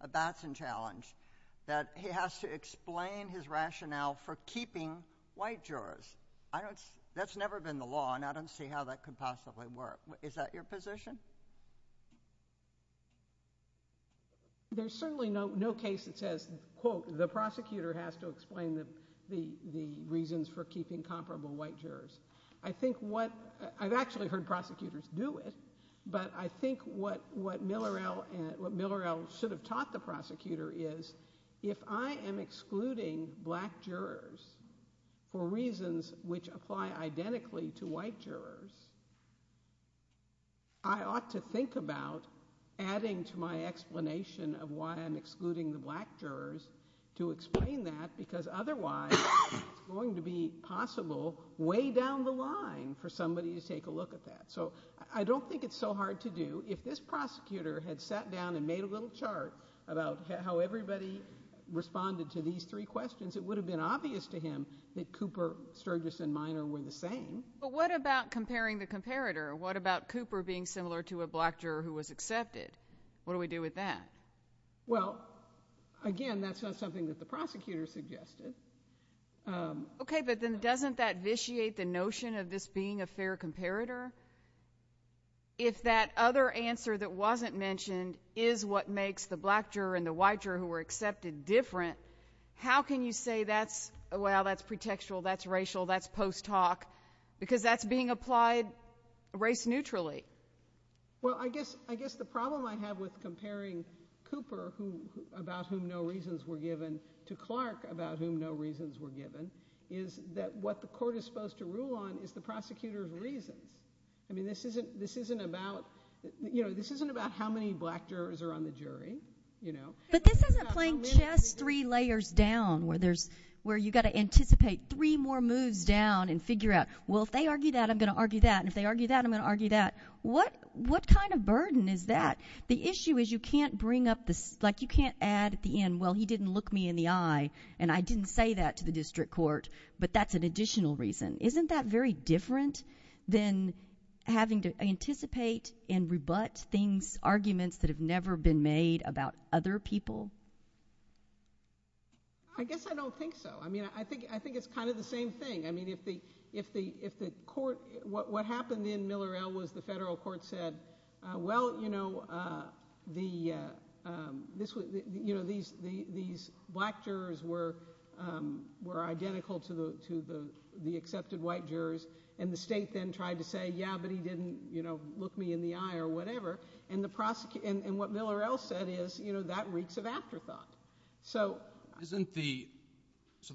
a Batson challenge, that he has to explain his rationale for keeping white jurors. I don't... that's never been the law, and I don't see how that could possibly work. Is that your position? There's certainly no case that says, quote, the prosecutor has to explain the reasons for keeping comparable white jurors. I think what... I've actually heard prosecutors do it, but I think what Miller L. should have taught the prosecutor is, if I am excluding black jurors for reasons which apply identically to white jurors, I ought to think about adding to my explanation of why I'm excluding the black jurors to explain that, because otherwise it's going to be possible way down the line for somebody to take a look at that. So I don't think it's so hard to do. If this prosecutor had sat down and made a little chart about how everybody responded to these three questions, it would have been obvious to him that Cooper, Sturgis, and Minor were the same. But what about comparing the comparator? What about Cooper being similar to a black juror who was accepted? What do we do with that? Well, again, that's not something that the prosecutor suggested. Okay, but then doesn't that vitiate the notion of this being a fair comparator? If that other answer that wasn't mentioned is what makes the black juror and the white juror who were accepted different, how can you say that's, well, that's pretextual, that's racial, that's post-talk, because that's being applied race-neutrally? Well, I guess the problem I have with comparing Cooper, about whom no reasons were given, to Clark, about whom no reasons were given, is that what the court is supposed to rule on is the prosecutor's reasons. I mean, this isn't about how many black jurors are on the jury. But this isn't playing chess three layers down, where you've got to anticipate three more moves down and figure out, well, if they argue that, I'm going to argue that, and if they argue that, I'm going to argue that. What kind of burden is that? The issue is you can't bring up the, like, you can't add at the end, well, he didn't look me in the eye, and I didn't say that to the district court, but that's an additional reason. Isn't that very different than having to anticipate and rebut things, arguments that have never been made about other people? I guess I don't think so. I mean, I think it's kind of the same thing. I mean, if the court, what happened in Miller-Ell was the federal court said, well, you know, these black jurors were identical to the accepted white jurors, and the state then tried to say, yeah, but he didn't, you know, look me in the eye or whatever, and what Miller-Ell said is, you know, that reeks of afterthought. So the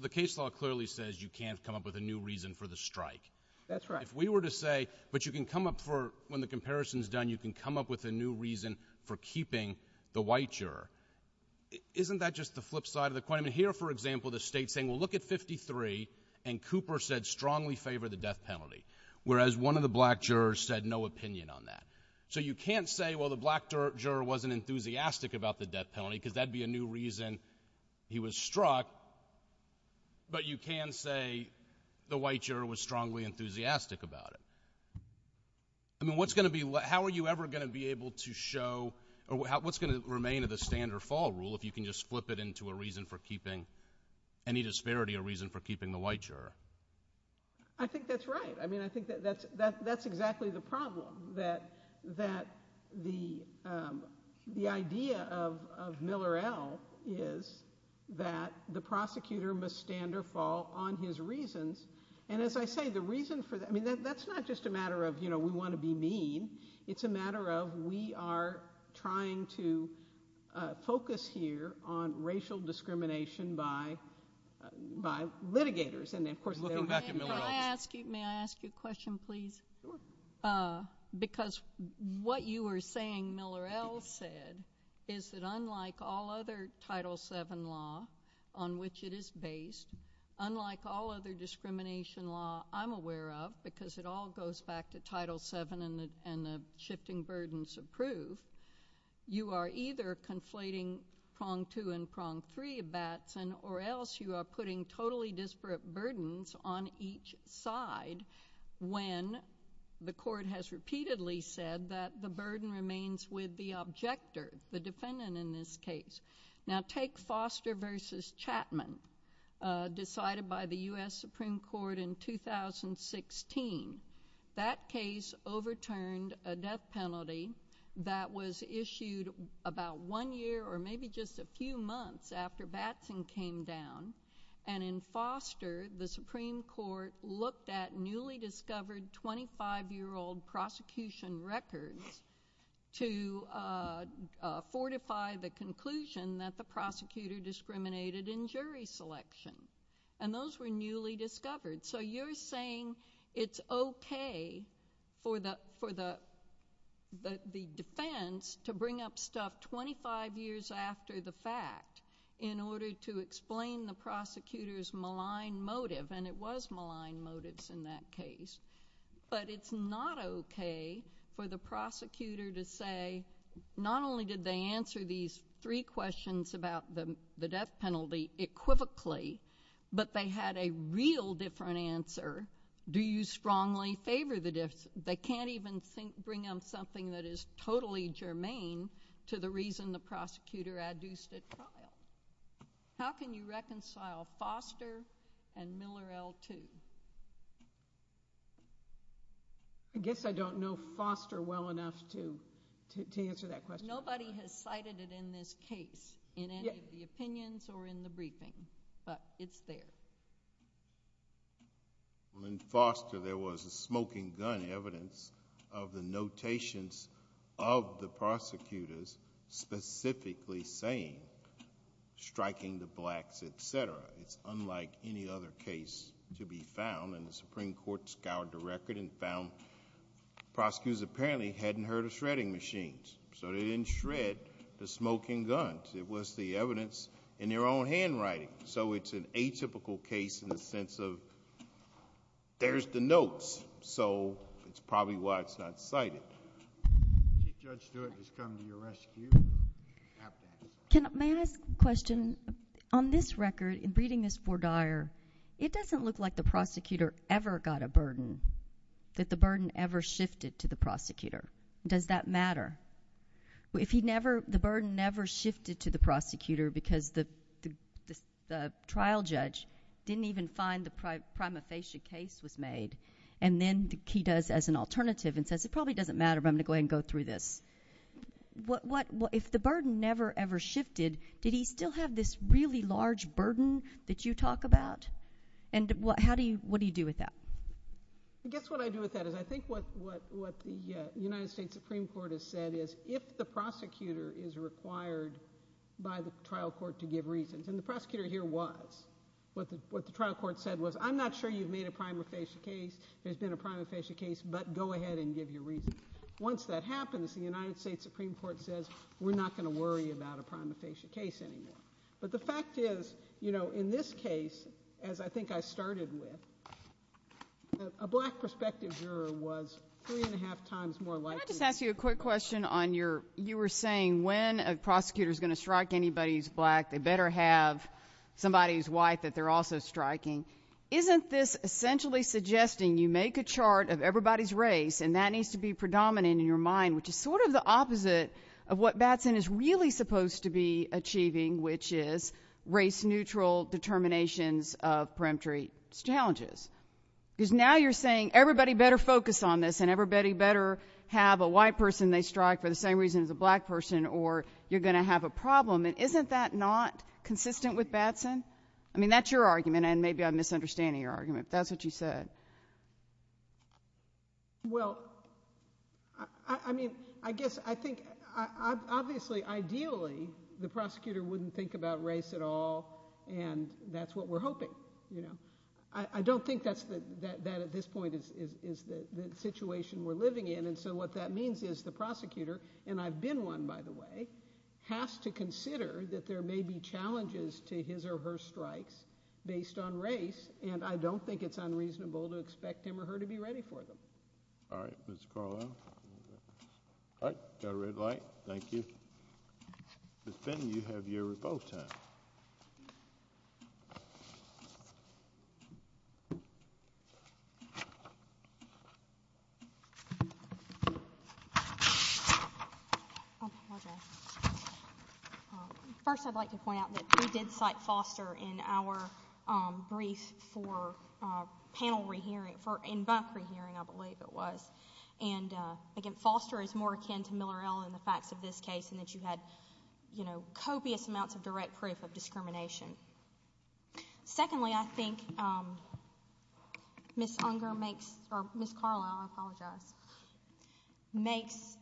case law clearly says you can't come up with a new reason for the strike. That's right. If we were to say, but you can come up for, when the comparison is done, you can come up with a new reason for keeping the white juror, isn't that just the flip side of the coin? I mean, here, for example, the state's saying, well, look at 53, and Cooper said strongly favor the death penalty, whereas one of the black jurors said no opinion on that. So you can't say, well, the black juror wasn't enthusiastic about the death penalty because that would be a new reason he was struck, but you can say the white juror was strongly enthusiastic about it. I mean, what's going to be, how are you ever going to be able to show, or what's going to remain of the stand or fall rule if you can just flip it into a reason for keeping any disparity a reason for keeping the white juror? I think that's right. I mean, I think that's exactly the problem, that the idea of Miller-Ell is that the prosecutor must stand or fall on his reasons, and as I say, the reason for that, I mean, that's not just a matter of, you know, we want to be mean. It's a matter of we are trying to focus here on racial discrimination by litigators, and of course they're looking back at Miller-Ell. May I ask you a question, please? Sure. Because what you were saying Miller-Ell said is that unlike all other Title VII law on which it is based, unlike all other discrimination law I'm aware of, because it all goes back to Title VII and the shifting burdens of proof, you are either conflating prong two and prong three, Batson, or else you are putting totally disparate burdens on each side when the court has repeatedly said that the burden remains with the objector, the defendant in this case. Now, take Foster v. Chapman, decided by the U.S. Supreme Court in 2016. That case overturned a death penalty that was issued about one year or maybe just a few months after Batson came down, and in Foster the Supreme Court looked at newly discovered 25-year-old prosecution records to fortify the conclusion that the prosecutor discriminated in jury selection, and those were newly discovered. So you're saying it's okay for the defense to bring up stuff 25 years after the fact in order to explain the prosecutor's malign motive, and it was malign motives in that case, but it's not okay for the prosecutor to say not only did they answer these three questions about the death penalty equivocally, but they had a real different answer. Do you strongly favor the death penalty? They can't even bring up something that is totally germane to the person the prosecutor adduced at trial. How can you reconcile Foster and Miller L. too? I guess I don't know Foster well enough to answer that question. Nobody has cited it in this case in any of the opinions or in the briefing, but it's there. In Foster there was a smoking gun evidence of the notations of the prosecutors specifically saying striking the blacks, etc. It's unlike any other case to be found, and the Supreme Court scoured the record and found prosecutors apparently hadn't heard of shredding machines, so they didn't shred the smoking guns. It was the evidence in their own handwriting, so it's an atypical case in the sense of there's the notes, so it's probably why it's not cited. Judge Stewart has come to your rescue. May I ask a question? On this record, in reading this for Dyer, it doesn't look like the prosecutor ever got a burden, that the burden ever shifted to the prosecutor. Does that matter? If the burden never shifted to the prosecutor because the trial judge didn't even find the prima facie case was made, and then he does as an alternative and says it probably doesn't matter, but I'm going to go through this. If the burden never ever shifted, did he still have this really large burden that you talk about? What do you do with that? I guess what I do with that is I think what the United States Supreme Court has said is if the prosecutor is required by the trial court to give reasons, and the prosecutor here was. What the trial court said was, I'm not sure you've made a prima facie case, there's been a prima facie case, but go ahead and give your reason. Once that happens, the United States Supreme Court says, we're not going to worry about a prima facie case anymore. But the fact is, in this case, as I think I started with, a black prospective juror was three and a half times more likely. Can I just ask you a quick question on your, you were saying when a prosecutor is going to strike anybody who's black, they better have somebody who's white that they're also striking. Isn't this essentially suggesting you make a chart of everybody's race, and that needs to be predominant in your mind, which is sort of the opposite of what Batson is really supposed to be achieving, which is race-neutral determinations of peremptory challenges? Because now you're saying everybody better focus on this, and everybody better have a white person they strike for the same reason as a black person, or you're going to have a problem. And isn't that not consistent with Batson? I mean, that's your argument, and maybe I'm misunderstanding your argument, but that's what you said. Well, I mean, I guess I think, obviously, ideally, the prosecutor wouldn't think about race at all, and that's what we're hoping. I don't think that at this point is the situation we're living in, and so what that means is the prosecutor, and I've been one, by the way, has to consider that there may be challenges to his or her strikes based on race, and I don't think he or she is going to be able to expect him or her to be ready for them. All right. Ms. Carlisle? All right. Got a red light. Thank you. Ms. Benning, you have your repo time. First, I'd like to point out that we did cite Foster in our brief for panel re-hearing, for in-bunk re-hearing, I believe it was, and again, Foster is more akin to Miller-El in the facts of this case in that you had copious amounts of direct proof of discrimination. Secondly, I think Ms. Unger makes, or Ms. Carlisle, I apologize, makes,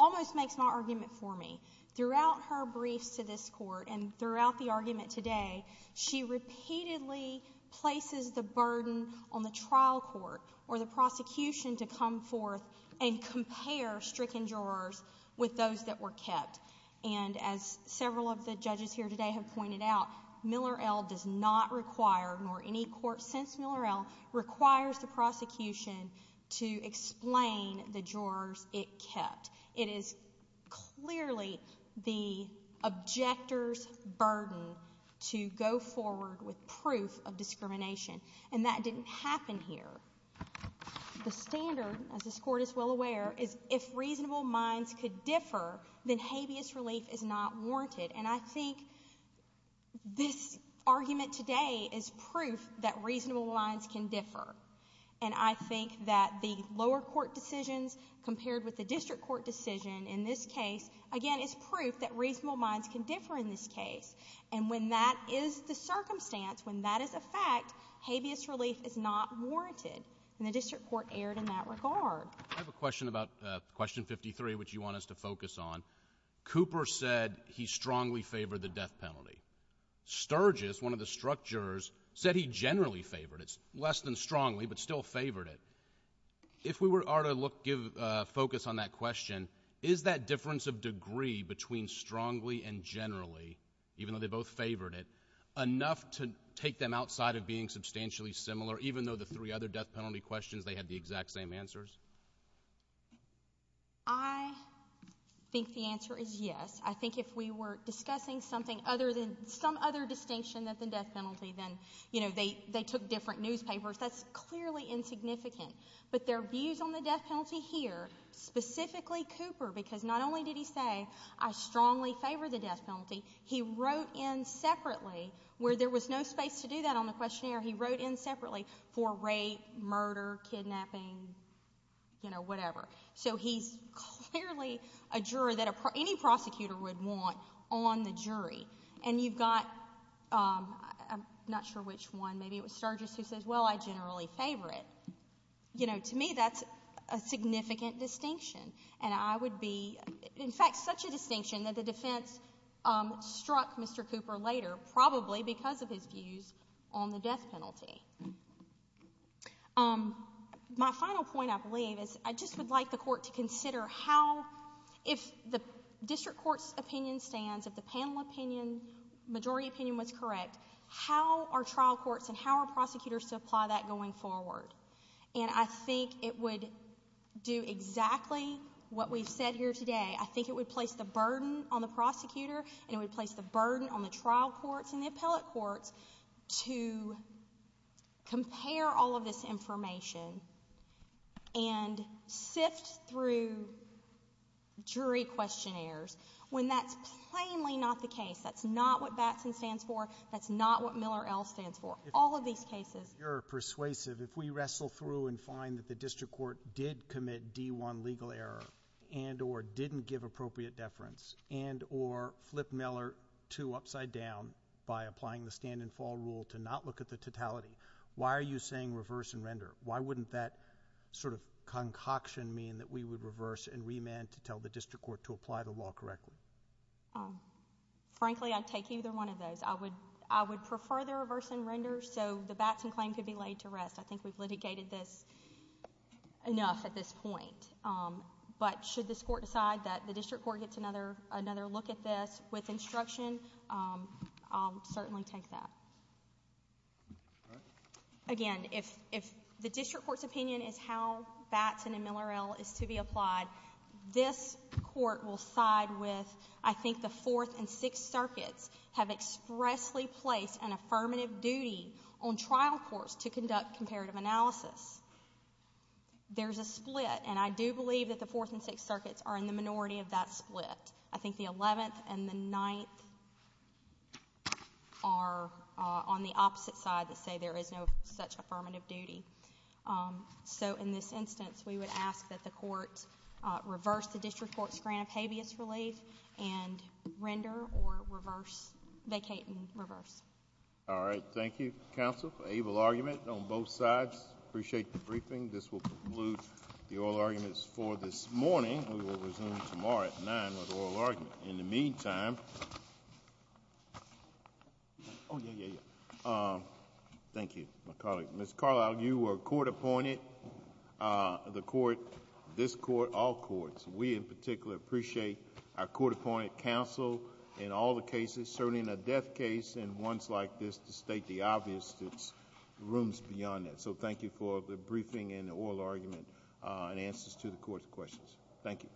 almost makes my argument for me. Throughout her briefs to this court and throughout the argument today, she repeatedly places the burden on the trial court or the prosecution to come forth and compare stricken jurors with those that were kept, and as several of the judges here today have pointed out, Miller-El does not require, nor any court since Miller-El, requires the prosecution to explain the jurors it kept. It is clearly the objector's burden to go forward with proof of discrimination, and that didn't happen here. The standard, as this court is well aware, is if reasonable minds could differ, then habeas relief is not warranted, and I think this argument today is proof that reasonable minds can differ, and I think that the lower court decisions compared with the district court decision in this case, again, is proof that reasonable minds can differ in this case, and when that is the circumstance, when that is a fact, habeas relief is not warranted, and the district court erred in that regard. I have a question about question 53, which you want us to focus on. Cooper said he strongly favored the death penalty. Sturgis, one of the struck jurors, said he generally favored it, less than strongly, but still favored it. If we were to give focus on that question, is that difference of degree between strongly and generally, even though they both favored it, enough to take them outside of being substantially similar, even though the three other death penalty questions, they had the exact same answers? I think the answer is yes. I think if we were discussing something other than some other distinction than the death penalty, then, you know, they took different newspapers. That is clearly insignificant, but their views on the death penalty here, specifically Cooper, because not only did he say, I strongly favor the death penalty, he wrote in separately, where there was no space to do that on the questionnaire, he wrote in separately for rape, murder, kidnapping, you know, whatever. So he is clearly a juror that any prosecutor would want on the jury, and you have got, I am not sure which one, maybe it was Sturgis who says, well, I generally favor it. You know, to me, that is a significant distinction, and I would be, in fact, such a distinction that the defense struck Mr. Cooper later, probably because of his views on the death penalty. My final point, I believe, is I just would like the Court to consider how, if the district court's opinion stands, if the panel opinion, majority opinion was correct, how are trial prosecutors to apply that going forward? And I think it would do exactly what we have said here today. I think it would place the burden on the prosecutor, and it would place the burden on the trial courts and the appellate courts to compare all of this information and sift through jury questionnaires when that is plainly not the case, that is not what we are looking for. Your persuasive, if we wrestle through and find that the district court did commit D-1 legal error and or didn't give appropriate deference and or flip Miller to upside down by applying the stand and fall rule to not look at the totality, why are you saying reverse and render? Why wouldn't that sort of concoction mean that we would reverse and remand to tell the district court to apply the law correctly? Frankly, I would take either one of those. I would prefer the reverse and render so the Batson claim could be laid to rest. I think we have litigated this enough at this point. But should this court decide that the district court gets another look at this with instruction, I will certainly take that. Again, if the district court's opinion is how Batson and Miller L is to be applied, this court will side with, I think the Fourth and Sixth Circuits have expressly placed an in-trial course to conduct comparative analysis. There is a split and I do believe that the Fourth and Sixth Circuits are in the minority of that split. I think the Eleventh and the Ninth are on the opposite side that say there is no such affirmative duty. So in this instance, we would ask that the court reverse the district court's grant of habeas relief and render or reverse, vacate and reverse. All right. Thank you, Counsel. Able argument on both sides. I appreciate the briefing. This will conclude the oral arguments for this morning. We will resume tomorrow at 9 with oral argument. In the meantime... Oh, yeah, yeah, yeah. Thank you, my colleague. Ms. Carlisle, you were court-appointed, the court, this court, all courts. We in particular appreciate our court-appointed counsel in all the cases, certainly in a death case and ones like this, to state the obvious, there are rooms beyond that. So thank you for the briefing and the oral argument and answers to the court's questions. Thank you.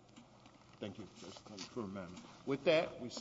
Thank you.